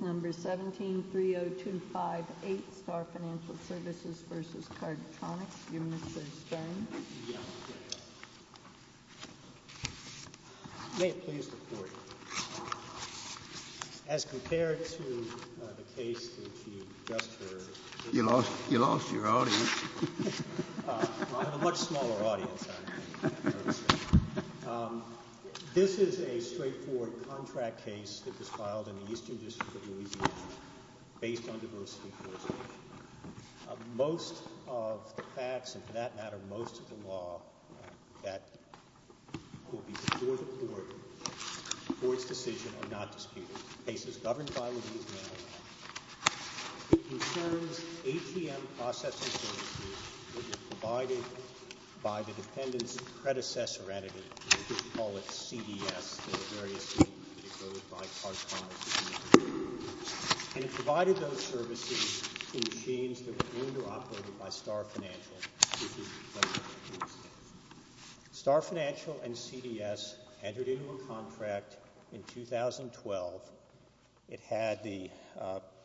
1730258 Star Financial Services, Inc. v. Cardtronics USA 1730258 Star Financial Services, Inc. v. Cardtronics USA 1730258 Star Financial Services, Inc. v. Cardtronics USA 1730258 Star Financial Services, Inc. v. Cardtronics USA Star Financial and CDS entered into a contract in 2012. It had the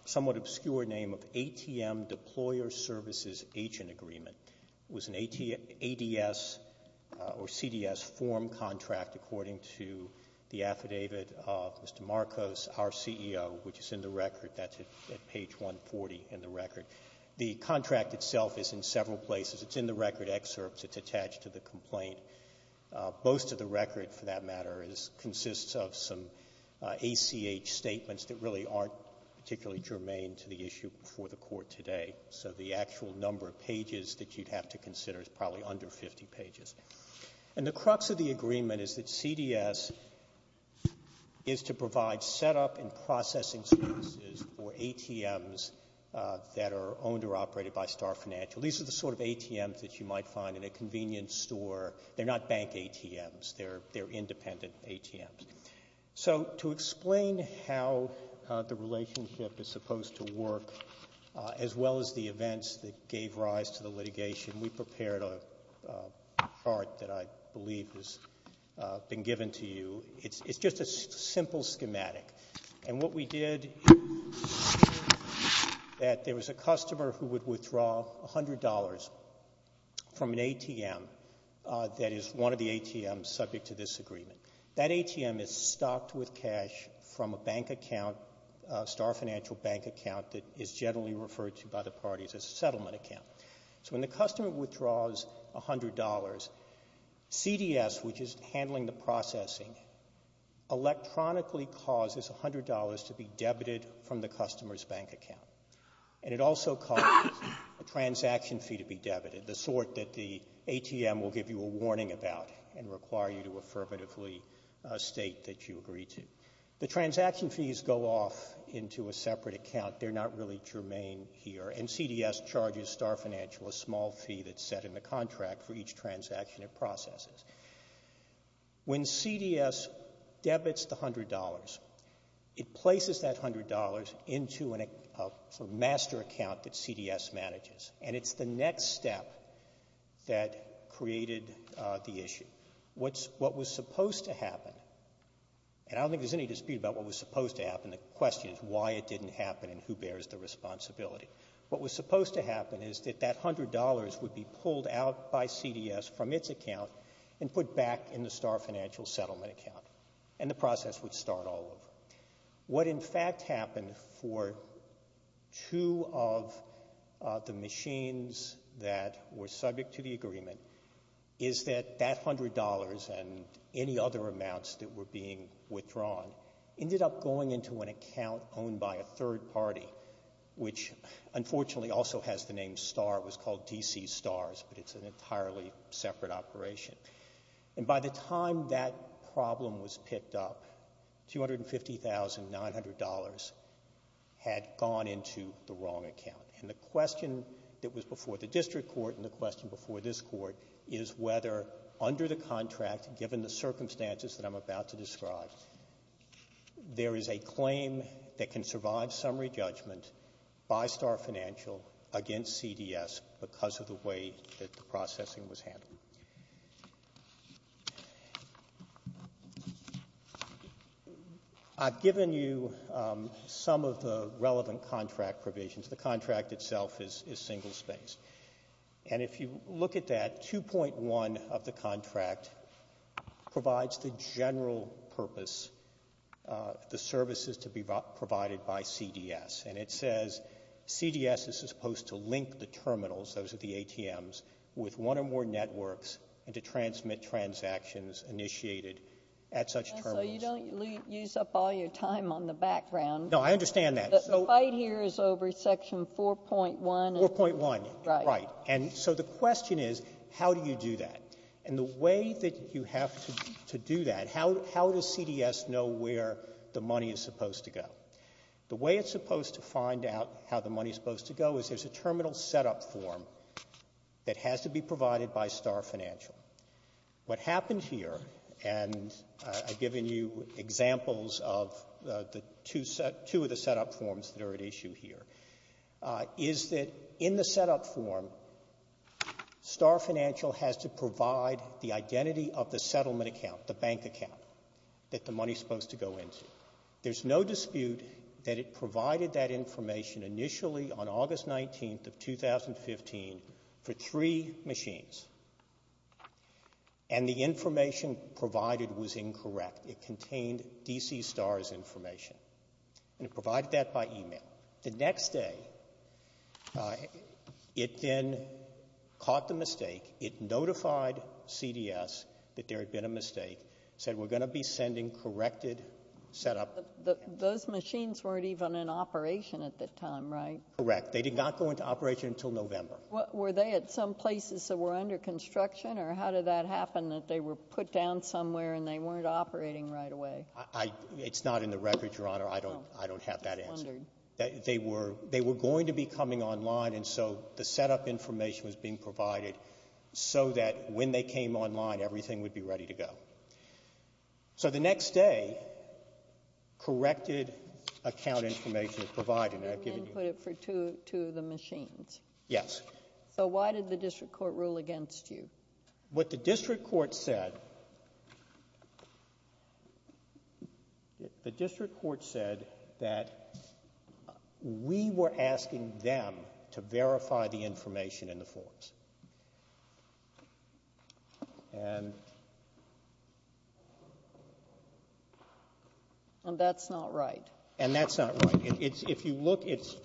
somewhat obscure name of ATM Deployer Services Agent Agreement. It was an ADS or CDS form contract according to the affidavit of Mr. Marcos, our CEO, which is in the record. That's at page 140 in the record. The contract itself is in several places. It's in the record excerpts. It's attached to the complaint. Most of the record, for that matter, consists of some ACH statements that really aren't particularly germane to the issue before the court today. So the actual number of pages that you'd have to consider is probably under 50 pages. And the crux of the agreement is that CDS is to provide setup and processing services for ATMs that are owned or operated by Star Financial. These are the sort of ATMs that you might find in a convenience store. They're not bank ATMs. They're independent ATMs. So to explain how the relationship is supposed to work, as well as the events that gave rise to the litigation, we prepared a chart that I believe has been given to you. It's just a simple schematic. And what we did is that there was a customer who would withdraw $100 from an ATM that is one of the ATMs subject to this agreement. That ATM is stocked with cash from a bank account, a Star Financial bank account, that is generally referred to by the parties as a settlement account. So when the customer withdraws $100, CDS, which is handling the processing, electronically causes $100 to be debited from the customer's bank account. And it also causes a transaction fee to be debited, the sort that the ATM will give you a warning about and require you to affirmatively state that you agree to. The transaction fees go off into a separate account. They're not really germane here. And CDS charges Star Financial a small fee that's set in the contract for each transaction it processes. When CDS debits the $100, it places that $100 into a master account that CDS manages. And it's the next step that created the issue. What was supposed to happen, and I don't think there's any dispute about what was supposed to happen. The question is why it didn't happen and who bears the responsibility. What was supposed to happen is that that $100 would be pulled out by CDS from its account and put back in the Star Financial settlement account, and the process would start all over. What in fact happened for two of the machines that were subject to the agreement is that that $100 and any other amounts that were being withdrawn ended up going into an account owned by a third party, which unfortunately also has the name Star. It was called DC Stars, but it's an entirely separate operation. And by the time that problem was picked up, $250,900 had gone into the wrong account. And the question that was before the district court and the question before this court is whether under the contract, given the circumstances that I'm about to describe, there is a claim that can survive summary judgment by Star Financial against CDS because of the way that the processing was handled. I've given you some of the relevant contract provisions. The contract itself is single space. And if you look at that, 2.1 of the contract provides the general purpose, the services to be provided by CDS. And it says CDS is supposed to link the terminals, those are the ATMs, with one or more networks and to transmit transactions initiated at such terminals. So you don't use up all your time on the background. No, I understand that. The fight here is over Section 4.1. 4.1, right. And so the question is, how do you do that? And the way that you have to do that, how does CDS know where the money is supposed to go? The way it's supposed to find out how the money is supposed to go is there's a terminal setup form that has to be provided by Star Financial. What happened here, and I've given you examples of two of the setup forms that are at issue here, is that in the setup form, Star Financial has to provide the identity of the settlement account, the bank account, that the money is supposed to go into. There's no dispute that it provided that information initially on August 19th of 2015 for three machines, and the information provided was incorrect. It contained DC Star's information, and it provided that by e-mail. The next day, it then caught the mistake. It notified CDS that there had been a mistake, said we're going to be sending corrected setup. Those machines weren't even in operation at that time, right? Correct. They did not go into operation until November. Were they at some places that were under construction, or how did that happen that they were put down somewhere and they weren't operating right away? It's not in the record, Your Honor. I don't have that answer. They were going to be coming online, and so the setup information was being provided so that when they came online, everything would be ready to go. So the next day, corrected account information was provided. And then put it for two of the machines. Yes. So why did the district court rule against you? What the district court said, the district court said that we were asking them to verify the information in the forms. And that's not right. And that's not right. If you look, it's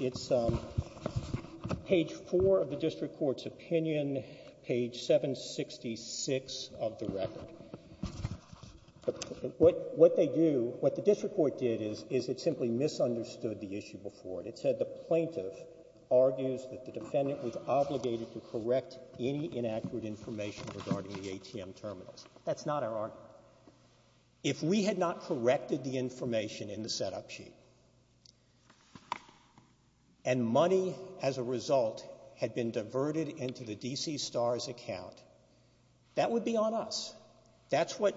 page four of the district court's opinion, page 766 of the record. What they do, what the district court did is it simply misunderstood the issue before. It said the plaintiff argues that the defendant was obligated to correct any inaccurate information regarding the ATM terminals. That's not our argument. If we had not corrected the information in the setup sheet, and money as a result had been diverted into the DC STARS account, that would be on us. That's what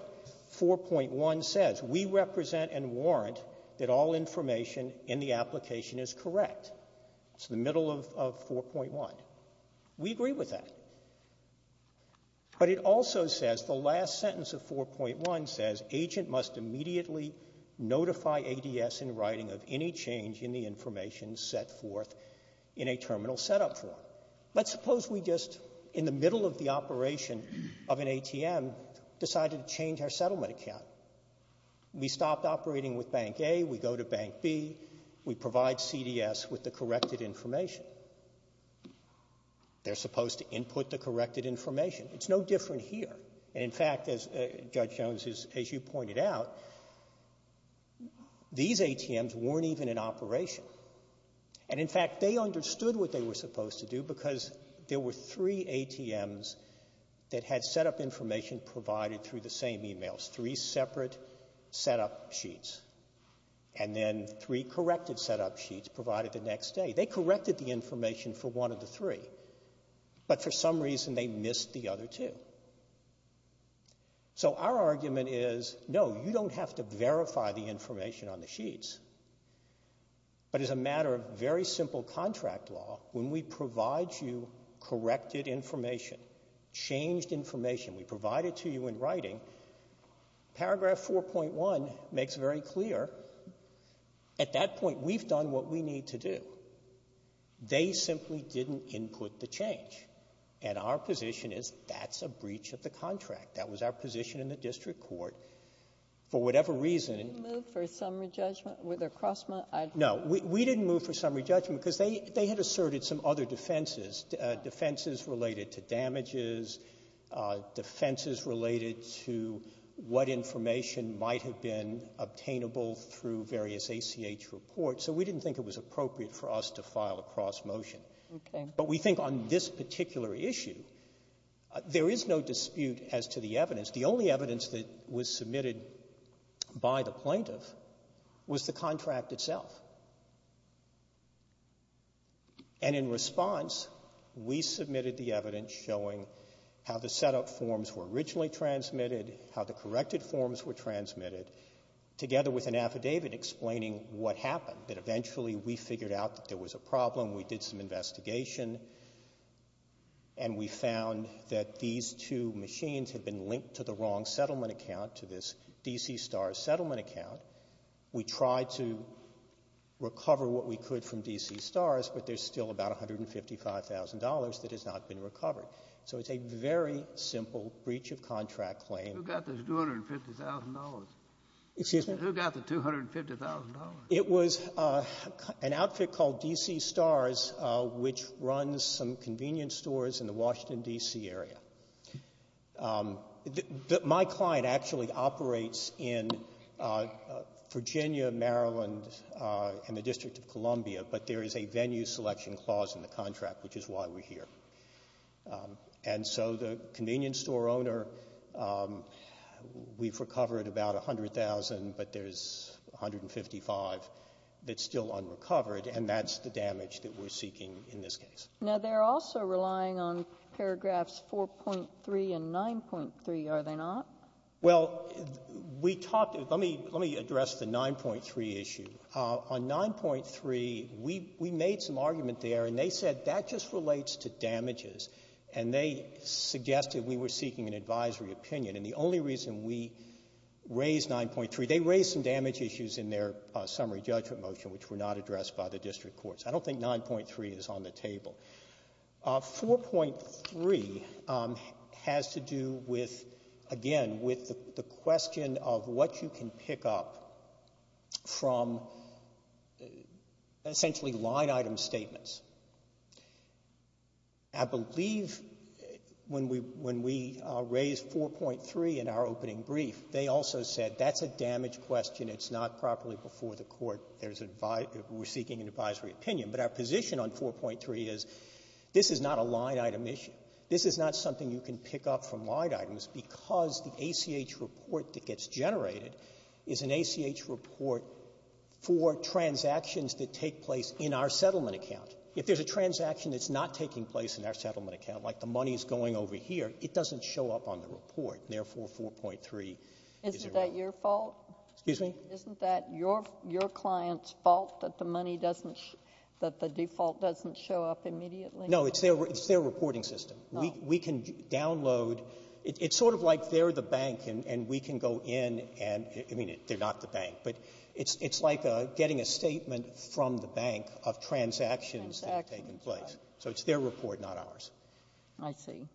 4.1 says. We represent and warrant that all information in the application is correct. It's the middle of 4.1. We agree with that. But it also says, the last sentence of 4.1 says, agent must immediately notify ADS in writing of any change in the information set forth in a terminal setup form. Let's suppose we just, in the middle of the operation of an ATM, decided to change our settlement account. We stopped operating with Bank A, we go to Bank B, we provide CDS with the corrected information. They're supposed to input the corrected information. It's no different here. And in fact, Judge Jones, as you pointed out, these ATMs weren't even in operation. And in fact, they understood what they were supposed to do because there were three ATMs that had setup information provided through the same emails, three separate setup sheets. And then three corrected setup sheets provided the next day. They corrected the information for one of the three. But for some reason, they missed the other two. So our argument is, no, you don't have to verify the information on the sheets. But as a matter of very simple contract law, when we provide you corrected information, changed information, we provide it to you in writing, paragraph 4.1 makes very clear at that point we've done what we need to do. They simply didn't input the change. And our position is that's a breach of the contract. That was our position in the district court. For whatever reason. Did you move for summary judgment? No. We didn't move for summary judgment because they had asserted some other defenses, defenses related to damages, defenses related to what information might have been obtainable through various ACH reports. So we didn't think it was appropriate for us to file a cross motion. But we think on this particular issue, there is no dispute as to the evidence. The only evidence that was submitted by the plaintiff was the contract itself. And in response, we submitted the evidence showing how the setup forms were originally transmitted, how the corrected forms were transmitted, together with an affidavit explaining what happened, that eventually we figured out that there was a problem. We did some investigation. And we found that these two machines had been linked to the wrong settlement account, to this DC STARS settlement account. We tried to recover what we could from DC STARS, but there's still about $155,000 that has not been recovered. So it's a very simple breach of contract claim. Who got the $250,000? Excuse me? Who got the $250,000? It was an outfit called DC STARS, which runs some convenience stores in the Washington, D.C. area. My client actually operates in Virginia, Maryland, and the District of Columbia, but there is a venue selection clause in the contract, which is why we're here. And so the convenience store owner, we've recovered about $100,000, but there's $155,000 that's still unrecovered, and that's the damage that we're seeking in this case. Now, they're also relying on paragraphs 4.3 and 9.3, are they not? Well, we talked to them. Let me address the 9.3 issue. On 9.3, we made some argument there, and they said that just relates to damages, and they suggested we were seeking an advisory opinion. And the only reason we raised 9.3, they raised some damage issues in their summary judgment motion, which were not addressed by the district courts. I don't think 9.3 is on the table. 4.3 has to do with, again, with the question of what you can pick up from essentially line-item statements. I believe when we raised 4.3 in our opening brief, they also said that's a damage question, it's not properly before the court, we're seeking an advisory opinion. But our position on 4.3 is this is not a line-item issue. This is not something you can pick up from line items because the ACH report that gets generated is an ACH report for transactions that take place in our settlement account. If there's a transaction that's not taking place in our settlement account, like the money is going over here, it doesn't show up on the report, and therefore 4.3 is irrelevant. Isn't that your fault? Excuse me? Isn't that your client's fault that the money doesn't, that the default doesn't show up immediately? No, it's their reporting system. We can download. It's sort of like they're the bank and we can go in and, I mean, they're not the bank, but it's like getting a statement from the bank of transactions that have taken place. So it's their report, not ours. I see.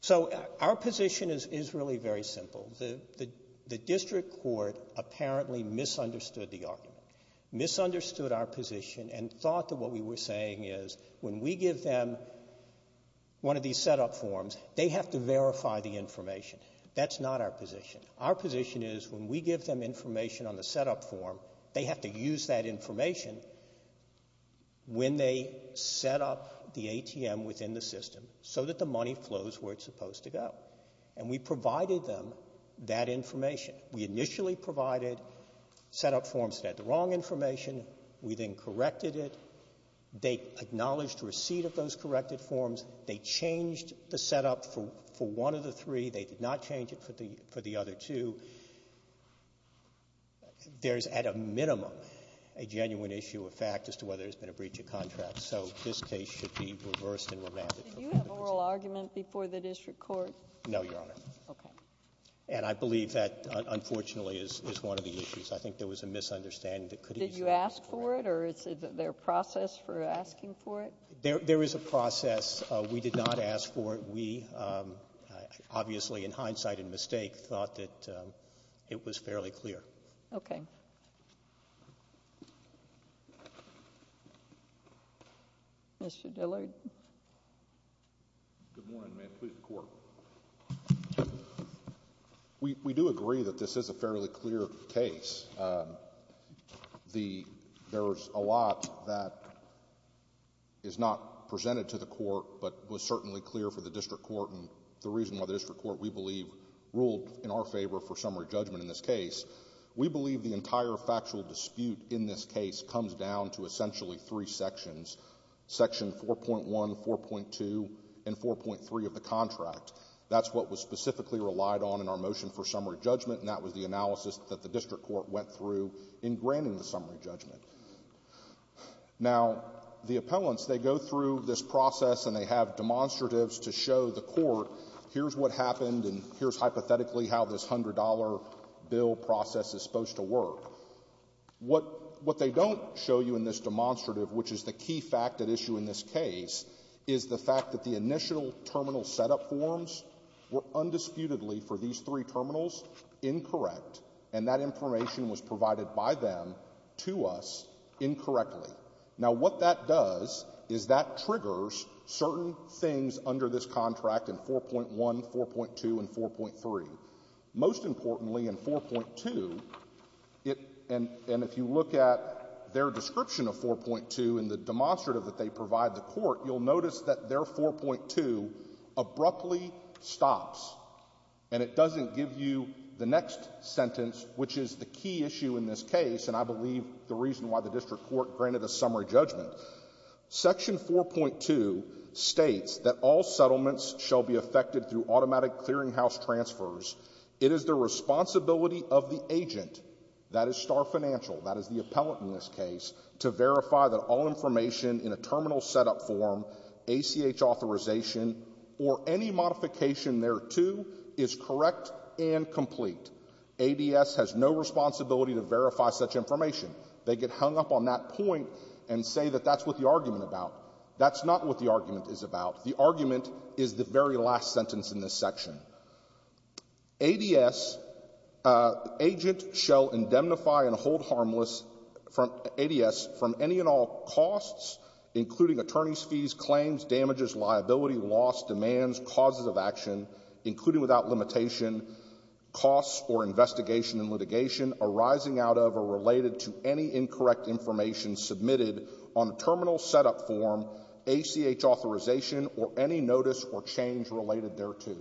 So our position is really very simple. The district court apparently misunderstood the argument, misunderstood our position, and thought that what we were saying is when we give them one of these setup forms, they have to verify the information. That's not our position. Our position is when we give them information on the setup form, they have to use that information when they set up the ATM within the system so that the money flows where it's supposed to go. And we provided them that information. We initially provided setup forms that had the wrong information. We then corrected it. They acknowledged receipt of those corrected forms. They changed the setup for one of the three. They did not change it for the other two. There's at a minimum a genuine issue of fact as to whether there's been a breach of contract. So this case should be reversed and remanded. Did you have an oral argument before the district court? No, Your Honor. Okay. And I believe that, unfortunately, is one of the issues. I think there was a misunderstanding. Did you ask for it, or is there a process for asking for it? There is a process. We did not ask for it. We, obviously, in hindsight and mistake, thought that it was fairly clear. Okay. Mr. Dillard. Good morning. May it please the Court. We do agree that this is a fairly clear case. There's a lot that is not presented to the Court, but was certainly clear for the district court and the reason why the district court, we believe, ruled in our favor for summary judgment in this case. We believe the entire factual dispute in this case comes down to essentially three sections, section 4.1, 4.2, and 4.3 of the contract. That's what was specifically relied on in our motion for summary judgment, and that was the analysis that the district court went through in granting the summary judgment. Now, the appellants, they go through this process and they have demonstratives to show the court, here's what happened and here's hypothetically how this $100 bill process is supposed to work. What they don't show you in this demonstrative, which is the key fact at issue in this case, is the fact that the initial terminal setup forms were undisputedly, for these three terminals, incorrect, and that information was provided by them to us incorrectly. Now, what that does is that triggers certain things under this contract in 4.1, 4.2, and 4.3. Most importantly, in 4.2, and if you look at their description of 4.2 in the demonstrative that they provide the court, you'll notice that their 4.2 abruptly stops, and it doesn't give you the next sentence, which is the key issue in this case, and I believe the reason why the district court granted a summary judgment. Section 4.2 states that all settlements shall be affected through automatic clearinghouse transfers. It is the responsibility of the agent, that is Star Financial, that is the appellant in this case, to verify that all information in a terminal setup form, ACH authorization, or any modification thereto is correct and complete. ADS has no responsibility to verify such information. They get hung up on that point and say that that's what the argument is about. That's not what the argument is about. The argument is the very last sentence in this section. ADS, agent shall indemnify and hold harmless ADS from any and all costs, including attorney's fees, claims, damages, liability, loss, demands, causes of action, including without limitation, costs or investigation and litigation arising out of or related to any incorrect information submitted on a terminal setup form, ACH authorization, or any notice or change related thereto.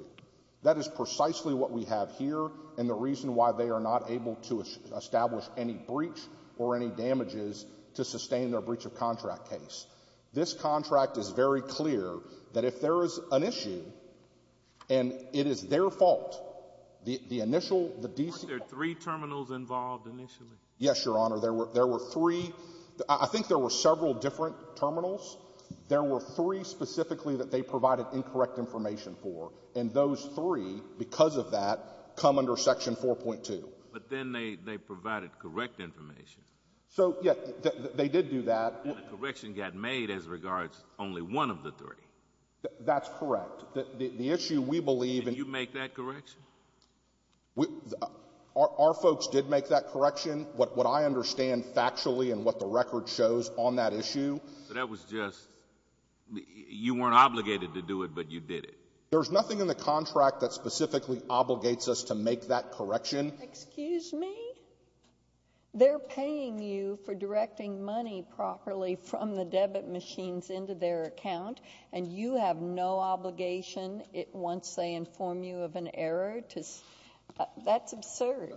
That is precisely what we have here and the reason why they are not able to establish any breach or any damages to sustain their breach of contract case. This contract is very clear that if there is an issue and it is their fault, the initial, the D.C. Weren't there three terminals involved initially? Yes, Your Honor. There were three. I think there were several different terminals. There were three specifically that they provided incorrect information for, and those three, because of that, come under section 4.2. But then they provided correct information. So, yes, they did do that. And the correction got made as regards only one of the three. That's correct. The issue we believe in— Did you make that correction? Our folks did make that correction. What I understand factually and what the record shows on that issue— That was just, you weren't obligated to do it, but you did it. There's nothing in the contract that specifically obligates us to make that correction. Excuse me? They're paying you for directing money properly from the debit machines into their account, and you have no obligation once they inform you of an error to—that's absurd.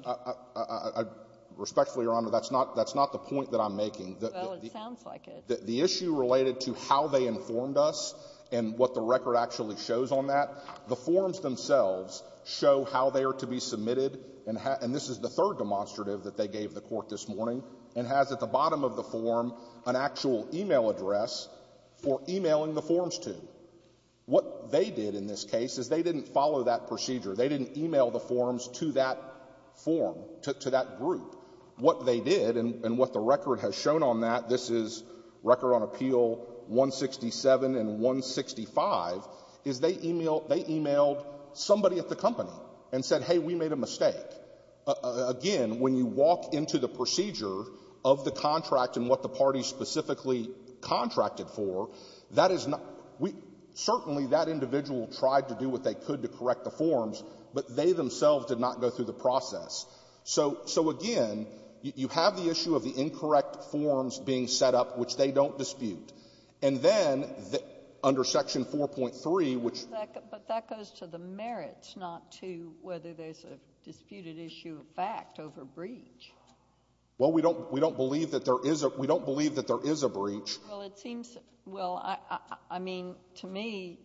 Respectfully, Your Honor, that's not the point that I'm making. Well, it sounds like it. The issue related to how they informed us and what the record actually shows on that, the forms themselves show how they are to be submitted, and this is the third demonstrative that they gave the Court this morning, and has at the bottom of the form an actual e-mail address for e-mailing the forms to. What they did in this case is they didn't follow that procedure. They didn't e-mail the forms to that form, to that group. What they did, and what the record has shown on that, this is Record on Appeal 167 and 165, is they e-mailed somebody at the company and said, hey, we made a mistake. Again, when you walk into the procedure of the contract and what the parties specifically contracted for, that is not — certainly that individual tried to do what they could to correct the forms, but they themselves did not go through the process. So, again, you have the issue of the incorrect forms being set up, which they don't And then under Section 4.3, which — But that goes to the merits, not to whether there's a disputed issue of fact over breach. Well, we don't believe that there is a — we don't believe that there is a breach. Well, it seems — well, I mean, to me,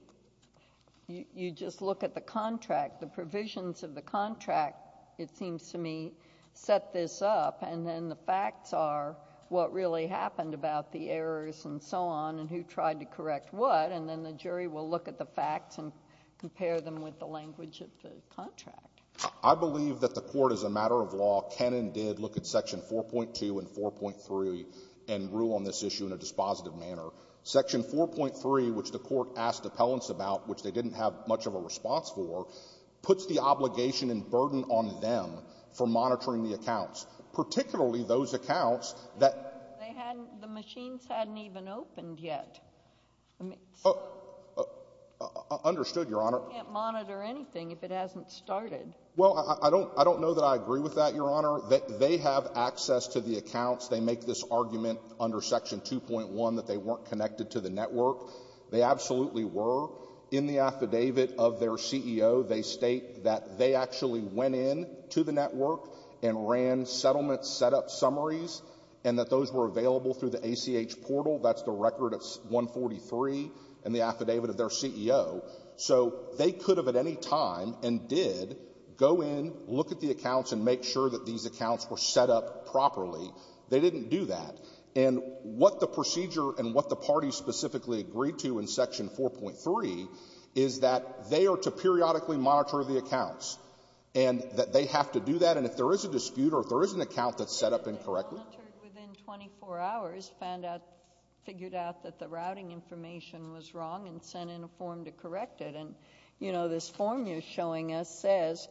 you just look at the contract. The provisions of the contract, it seems to me, set this up, and then the facts are what really happened about the errors and so on and who tried to correct what, and then the jury will look at the facts and compare them with the language of the contract. I believe that the Court, as a matter of law, can and did look at Section 4.2 and 4.3 and rule on this issue in a dispositive manner. Section 4.3, which the Court asked appellants about, which they didn't have much of a response for, particularly those accounts that — They hadn't — the machines hadn't even opened yet. Understood, Your Honor. You can't monitor anything if it hasn't started. Well, I don't know that I agree with that, Your Honor. They have access to the accounts. They make this argument under Section 2.1 that they weren't connected to the network. They absolutely were. In the affidavit of their CEO, they state that they actually went in to the network and ran settlement setup summaries and that those were available through the ACH portal. That's the record of 143 in the affidavit of their CEO. So they could have at any time and did go in, look at the accounts, and make sure that these accounts were set up properly. They didn't do that. And what the procedure and what the parties specifically agreed to in Section 4.3 is that they are to periodically monitor the accounts and that they have to do that, and if there is a dispute or if there is an account that's set up incorrectly— They monitored within 24 hours, found out, figured out that the routing information was wrong and sent in a form to correct it. And, you know, this form you're showing us says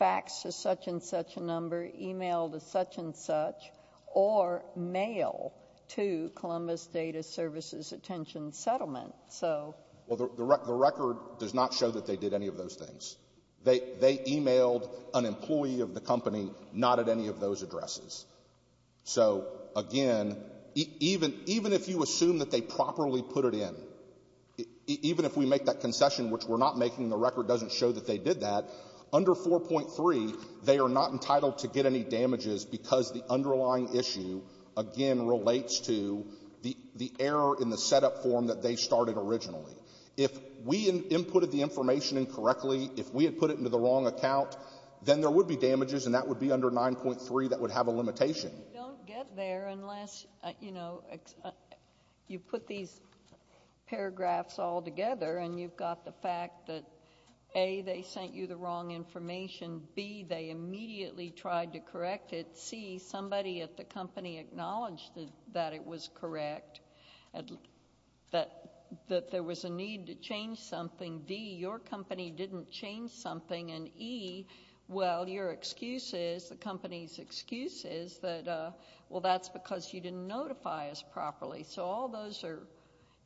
faxed to such and such a number, emailed to such and such, or mail to Columbus Data Services Attention Settlement. Well, the record does not show that they did any of those things. They emailed an employee of the company not at any of those addresses. So, again, even if you assume that they properly put it in, even if we make that concession, which we're not making, the record doesn't show that they did that, under 4.3, they are not entitled to get any damages because the underlying issue, again, relates to the error in the setup form that they started originally. If we inputted the information incorrectly, if we had put it into the wrong account, then there would be damages, and that would be under 9.3, that would have a limitation. You don't get there unless, you know, you put these paragraphs all together and you've got the fact that, A, they sent you the wrong information, B, they immediately tried to correct it, C, somebody at the company acknowledged that it was correct, that there was a need to change something, D, your company didn't change something, and E, well, your excuse is, the company's excuse is that, well, that's because you didn't notify us properly. So all those are,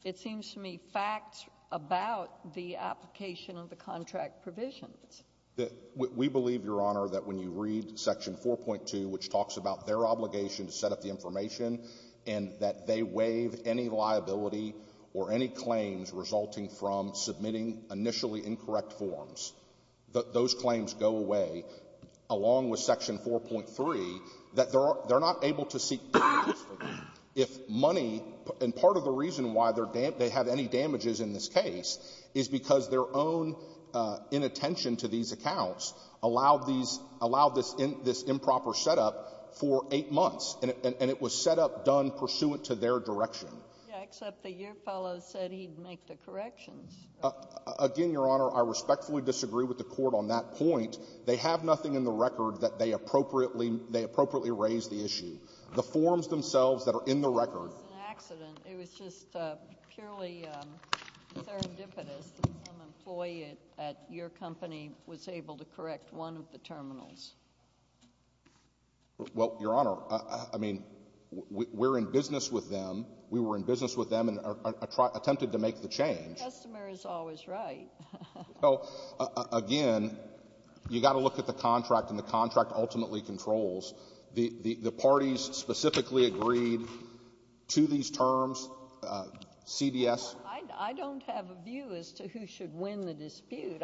it seems to me, facts about the application of the contract provisions. We believe, Your Honor, that when you read Section 4.2, which talks about their obligation to set up the information and that they waive any liability or any claims resulting from submitting initially incorrect forms, that those claims go away, along with Section 4.3, that they're not able to seek damages for them. If money, and part of the reason why they have any damages in this case is because their own inattention to these accounts allowed this improper setup for eight months, and it was setup done pursuant to their direction. Yeah, except that your fellow said he'd make the corrections. Again, Your Honor, I respectfully disagree with the Court on that point. They have nothing in the record that they appropriately raised the issue. The forms themselves that are in the record. It was an accident. It was just purely serendipitous that some employee at your company was able to correct one of the terminals. Well, Your Honor, I mean, we're in business with them. We were in business with them and attempted to make the change. The customer is always right. Well, again, you've got to look at the contract, and the contract ultimately controls. The parties specifically agreed to these terms, CBS. I don't have a view as to who should win the dispute.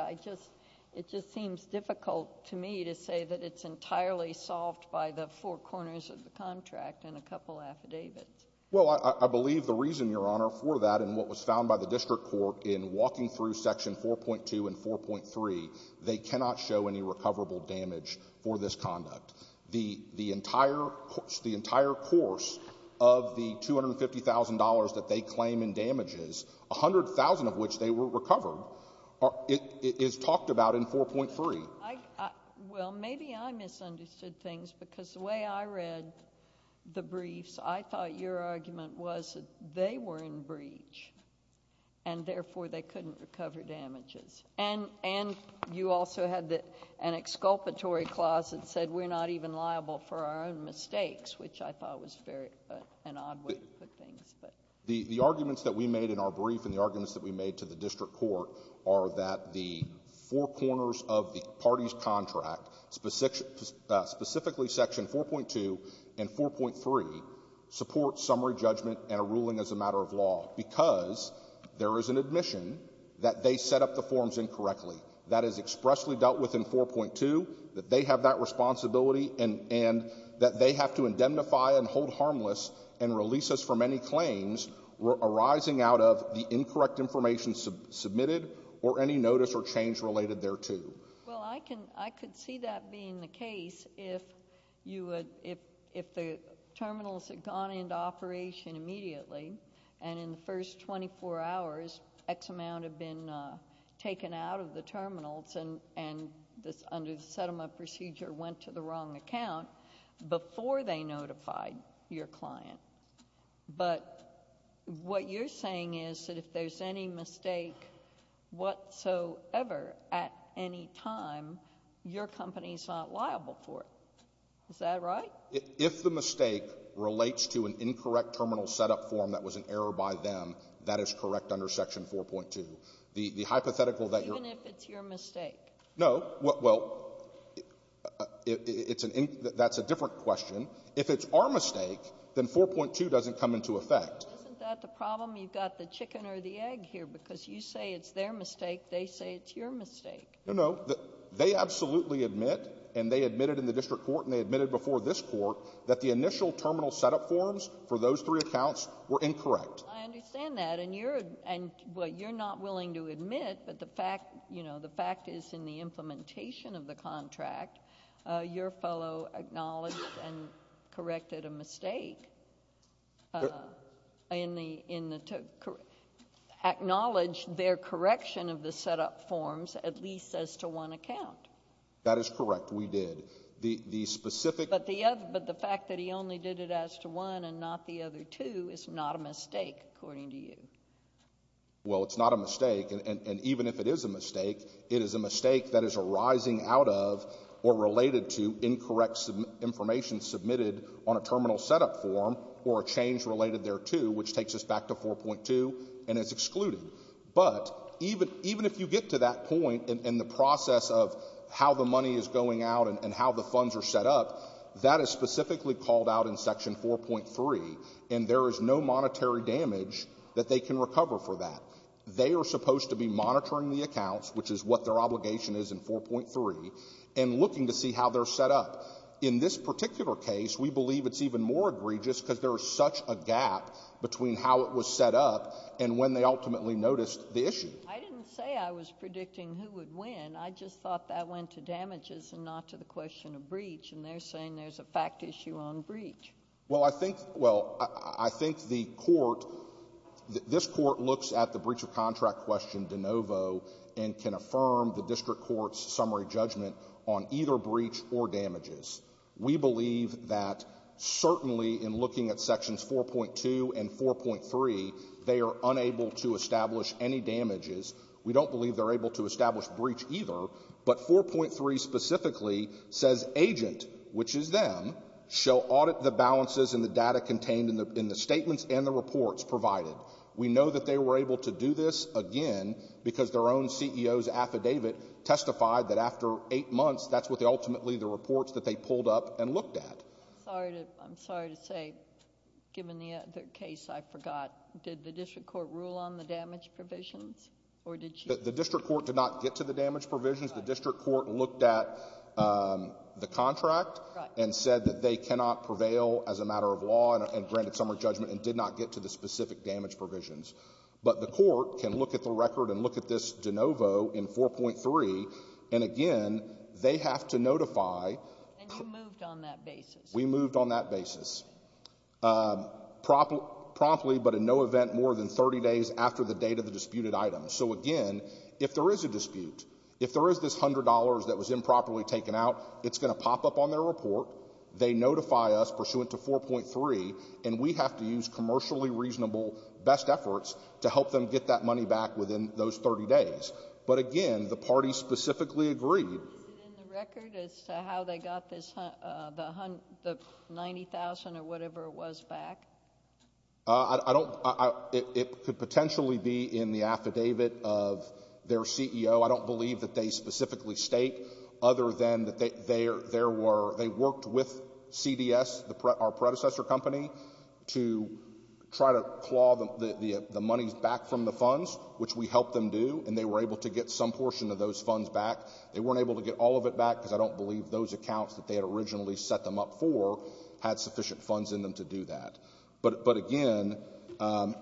It just seems difficult to me to say that it's entirely solved by the four corners of the contract and a couple affidavits. Well, I believe the reason, Your Honor, for that and what was found by the District Court in walking through Section 4.2 and 4.3, they cannot show any recoverable damage for this conduct. The entire course of the $250,000 that they claim in damages, 100,000 of which they were recovered, is talked about in 4.3. Well, maybe I misunderstood things because the way I read the briefs, I thought your argument was that they were in breach, and therefore they couldn't recover damages. And you also had an exculpatory clause that said we're not even liable for our own mistakes, which I thought was very an odd way to put things. The arguments that we made in our brief and the arguments that we made to the District Court are that the four corners of the parties' contract, specifically Section 4.2 and 4.3, support summary judgment and a ruling as a matter of law because there is an admission that they set up the forms incorrectly, that is expressly dealt with in 4.2, that they have that responsibility, and that they have to indemnify and hold harmless and release us from any claims arising out of the incorrect information submitted or any notice or change related thereto. Well, I could see that being the case if the terminals had gone into operation immediately and in the first 24 hours X amount had been taken out of the terminals and under the settlement procedure went to the wrong account before they notified your client. But what you're saying is that if there's any mistake whatsoever at any time, your company is not liable for it. Is that right? If the mistake relates to an incorrect terminal setup form that was an error by them, that is correct under Section 4.2. The hypothetical that your — Even if it's your mistake? No. Well, it's an — that's a different question. If it's our mistake, then 4.2 doesn't come into effect. Isn't that the problem? You've got the chicken or the egg here because you say it's their mistake. They say it's your mistake. No, no. They absolutely admit, and they admitted in the district court and they admitted before this court, that the initial terminal setup forms for those three accounts were incorrect. I understand that. And you're — and, well, you're not willing to admit, but the fact — you know, the fact is in the implementation of the contract, your fellow acknowledged and corrected a mistake in the — acknowledged their correction of the setup forms at least as to one account. That is correct. We did. The specific — But the fact that he only did it as to one and not the other two is not a mistake, according to you. Well, it's not a mistake, and even if it is a mistake, it is a mistake that is arising out of or related to incorrect information submitted on a terminal setup form or a change related thereto which takes us back to 4.2 and is excluded. But even if you get to that point in the process of how the money is going out and how the funds are set up, that is specifically called out in Section 4.3, and there is no monetary damage that they can recover for that. They are supposed to be monitoring the accounts, which is what their obligation is in 4.3, and looking to see how they're set up. In this particular case, we believe it's even more egregious because there is such a gap between how it was set up and when they ultimately noticed the issue. I didn't say I was predicting who would win. I just thought that went to damages and not to the question of breach, and they're saying there's a fact issue on breach. Well, I think — well, I think the Court — this Court looks at the breach of contract question de novo and can affirm the district court's summary judgment on either breach or damages. We believe that certainly in looking at Sections 4.2 and 4.3, they are unable to establish any damages. We don't believe they're able to establish breach either, but 4.3 specifically says agent, which is them, shall audit the balances and the data contained in the statements and the reports provided. We know that they were able to do this, again, because their own CEO's affidavit testified that after eight months, that's what ultimately the reports that they pulled up and looked at. I'm sorry to say, given the case I forgot, did the district court rule on the damage provisions, or did she — The district court did not get to the damage provisions. The district court looked at the contract and said that they cannot prevail as a matter of law and granted summary judgment and did not get to the specific damage provisions. But the Court can look at the record and look at this de novo in 4.3, and again, they have to notify — And you moved on that basis. We moved on that basis. Promptly, but in no event more than 30 days after the date of the disputed item. So again, if there is a dispute, if there is this $100 that was improperly taken out, it's going to pop up on their report. They notify us pursuant to 4.3, and we have to use commercially reasonable best efforts to help them get that money back within those 30 days. But again, the party specifically agreed — Is it in the record as to how they got this — the $90,000 or whatever it was back? I don't — it could potentially be in the affidavit of their CEO. I don't believe that they specifically state other than that there were — they worked with CDS, our predecessor company, to try to claw the money back from the funds, which we helped them do, and they were able to get some portion of those funds back. They weren't able to get all of it back because I don't believe those accounts that they had originally set them up for had sufficient funds in them to do that. But again, under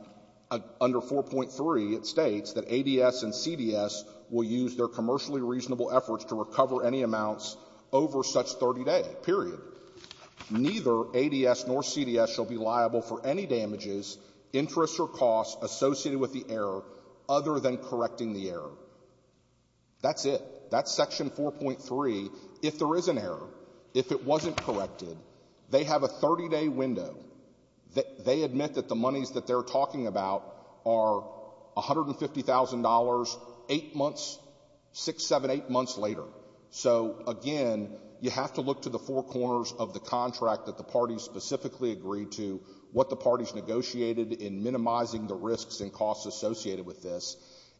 4.3, it states that ADS and CDS will use their commercially reasonable efforts to recover any amounts over such 30 days, period. Neither ADS nor CDS shall be liable for any damages, interests, or costs associated with the error other than correcting the error. That's it. That's Section 4.3. If there is an error, if it wasn't corrected, they have a 30-day window. They admit that the monies that they're talking about are $150,000 eight months — six, seven, eight months later. So, again, you have to look to the four corners of the contract that the parties specifically agreed to, what the parties negotiated in minimizing the risks and costs associated with this.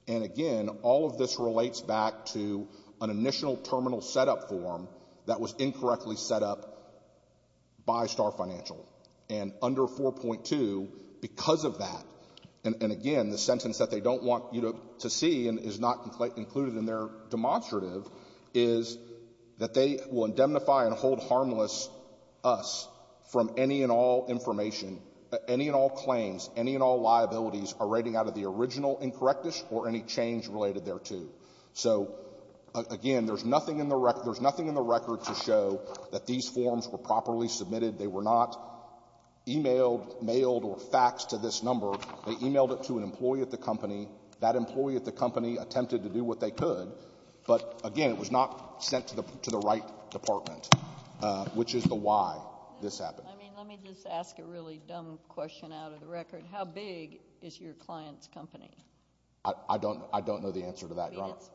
And, again, all of this relates back to an initial terminal setup form that was incorrectly set up by Star Financial. And under 4.2, because of that — and, again, the sentence that they don't want you to see and is not included in their demonstrative — is that they will indemnify and hold harmless us from any and all information — any and all claims, any and all liabilities are rating out of the original incorrectness or any change related thereto. So, again, there's nothing in the — there's nothing in the record to show that these forms were properly submitted. They were not emailed, mailed, or faxed to this number. They emailed it to an employee at the company. That employee at the company attempted to do what they could, but, again, it was not sent to the right department, which is the why this happened. I mean, let me just ask a really dumb question out of the record. How big is your client's company? I don't know the answer to that, Your Honor. It's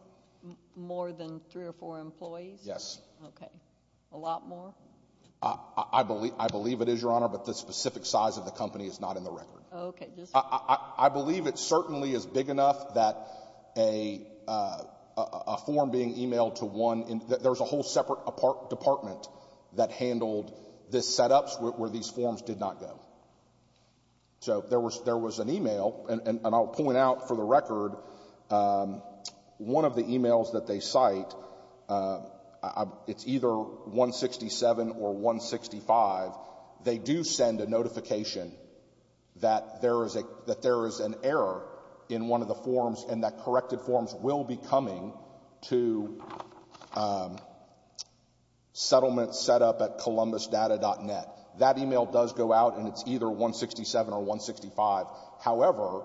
more than three or four employees? Yes. Okay. A lot more? I believe it is, Your Honor, but the specific size of the company is not in the record. Okay. I believe it certainly is big enough that a form being emailed to one — there's a whole separate department that handled the setups where these forms did not go. So there was an email, and I'll point out for the record, one of the emails that they cite, it's either 167 or 165. They do send a notification that there is an error in one of the forms and that corrected forms will be coming to settlement setup at columbusdata.net. That email does go out, and it's either 167 or 165. However,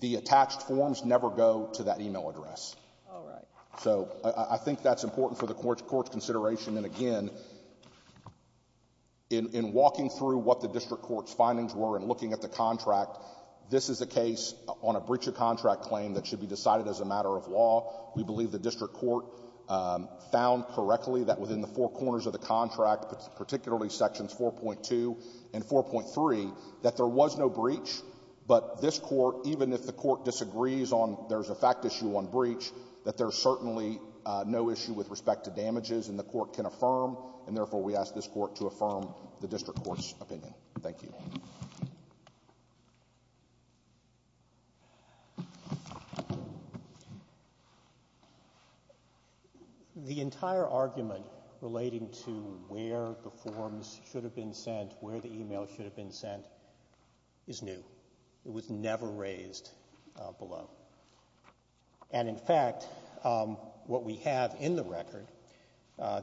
the attached forms never go to that email address. All right. So I think that's important for the Court's consideration. And again, in walking through what the district court's findings were and looking at the contract, this is a case on a breach of contract claim that should be decided as a matter of law. We believe the district court found correctly that within the four corners of the contract, particularly sections 4.2 and 4.3, that there was no breach. But this court, even if the court disagrees on there's a fact issue on breach, that there's certainly no issue with respect to damages and the court can affirm, and therefore we ask this court to affirm the district court's opinion. Thank you. The entire argument relating to where the forms should have been sent, where the email should have been sent, is new. It was never raised below. And, in fact, what we have in the record,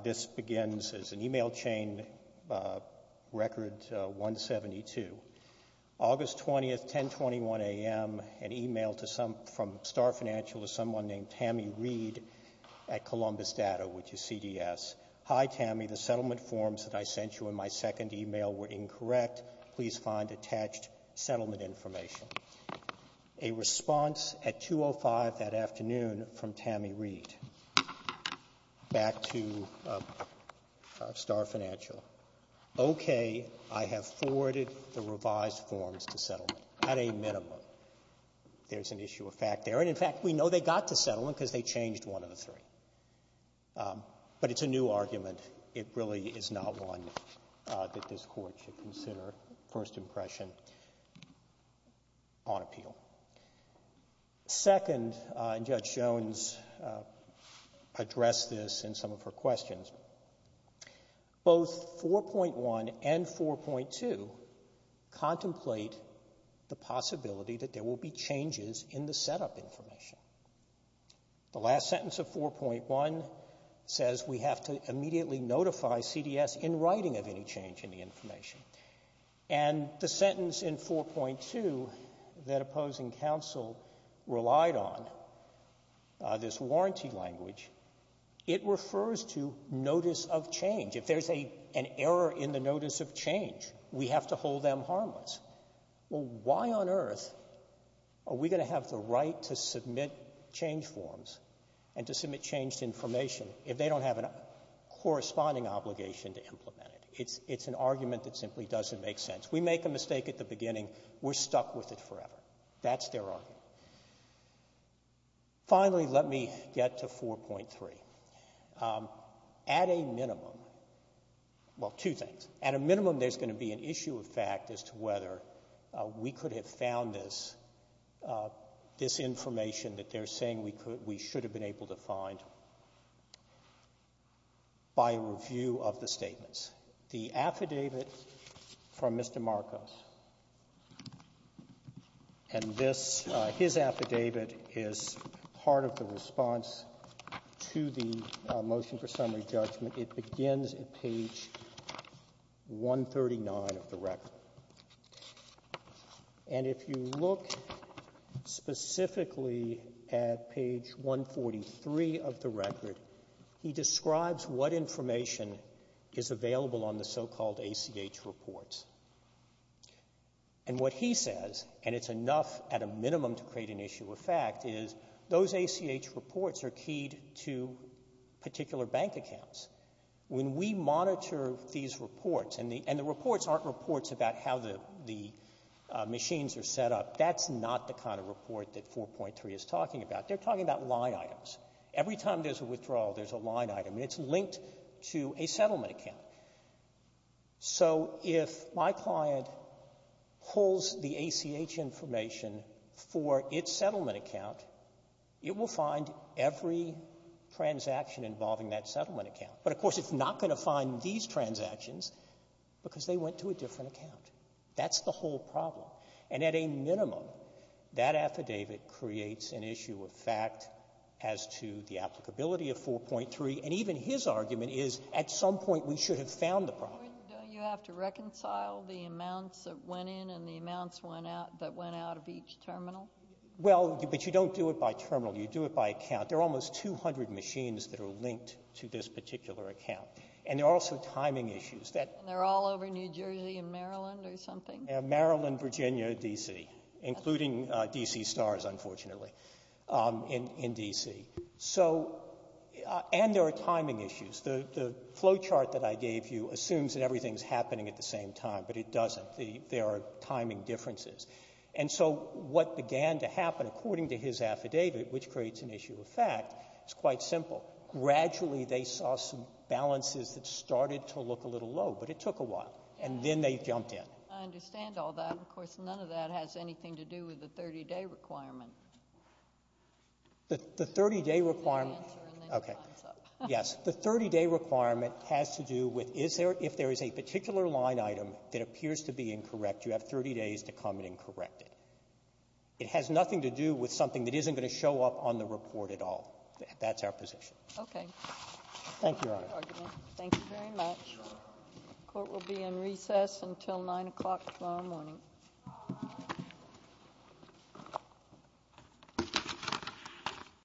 this begins as an email chain record 172. August 20th, 1021 a.m., an email from Star Financial to someone named Tammy Reed at Columbus Data, which is CDS. Hi, Tammy. The settlement forms that I sent you in my second email were incorrect. Please find attached settlement information. A response at 2.05 that afternoon from Tammy Reed back to Star Financial. Okay. I have forwarded the revised forms to settlement at a minimum. There's an issue of fact there. And, in fact, we know they got to settlement because they changed one of the three. But it's a new argument. It really is not one that this court should consider first impression on appeal. Second, and Judge Jones addressed this in some of her questions, both 4.1 and 4.2 contemplate the possibility that there will be changes in the setup information. The last sentence of 4.1 says we have to immediately notify CDS in writing of any change in the information. And the sentence in 4.2 that opposing counsel relied on, this warranty language, it refers to notice of change. If there's an error in the notice of change, we have to hold them harmless. Well, why on earth are we going to have the right to submit change forms and to submit changed information if they don't have a corresponding obligation to implement it? It's an argument that simply doesn't make sense. We make a mistake at the beginning. We're stuck with it forever. That's their argument. Finally, let me get to 4.3. At a minimum, well, two things. At a minimum, there's going to be an issue of fact as to whether we could have found this information that they're saying we should have been able to find by review of the statements. The affidavit from Mr. Marcos. And this, his affidavit, is part of the response to the motion for summary judgment. It begins at page 139 of the record. And if you look specifically at page 143 of the record, he describes what information is available on the so-called ACH reports. And what he says, and it's enough at a minimum to create an issue of fact, is those ACH reports are keyed to particular bank accounts. When we monitor these reports, and the reports aren't reports about how the machines are set up, that's not the kind of report that 4.3 is talking about. They're talking about line items. Every time there's a withdrawal, there's a line item, and it's linked to a settlement account. So if my client pulls the ACH information for its settlement account, it will find every transaction involving that settlement account. But, of course, it's not going to find these transactions because they went to a different account. That's the whole problem. And at a minimum, that affidavit creates an issue of fact as to the applicability of 4.3. And even his argument is at some point we should have found the problem. Don't you have to reconcile the amounts that went in and the amounts that went out of each terminal? Well, but you don't do it by terminal. You do it by account. There are almost 200 machines that are linked to this particular account. And there are also timing issues. And they're all over New Jersey and Maryland or something? Maryland, Virginia, D.C., including D.C. Stars, unfortunately, in D.C. And there are timing issues. The flowchart that I gave you assumes that everything is happening at the same time, but it doesn't. There are timing differences. And so what began to happen, according to his affidavit, which creates an issue of fact, is quite simple. Gradually, they saw some balances that started to look a little low, but it took a while, and then they jumped in. I understand all that. Of course, none of that has anything to do with the 30-day requirement. The 30-day requirement. Okay. Yes. The 30-day requirement has to do with if there is a particular line item that appears to be incorrect, you have 30 days to come and correct it. It has nothing to do with something that isn't going to show up on the report at all. That's our position. Okay. Thank you, Your Honor. Thank you very much. The court will be in recess until 9 o'clock tomorrow morning.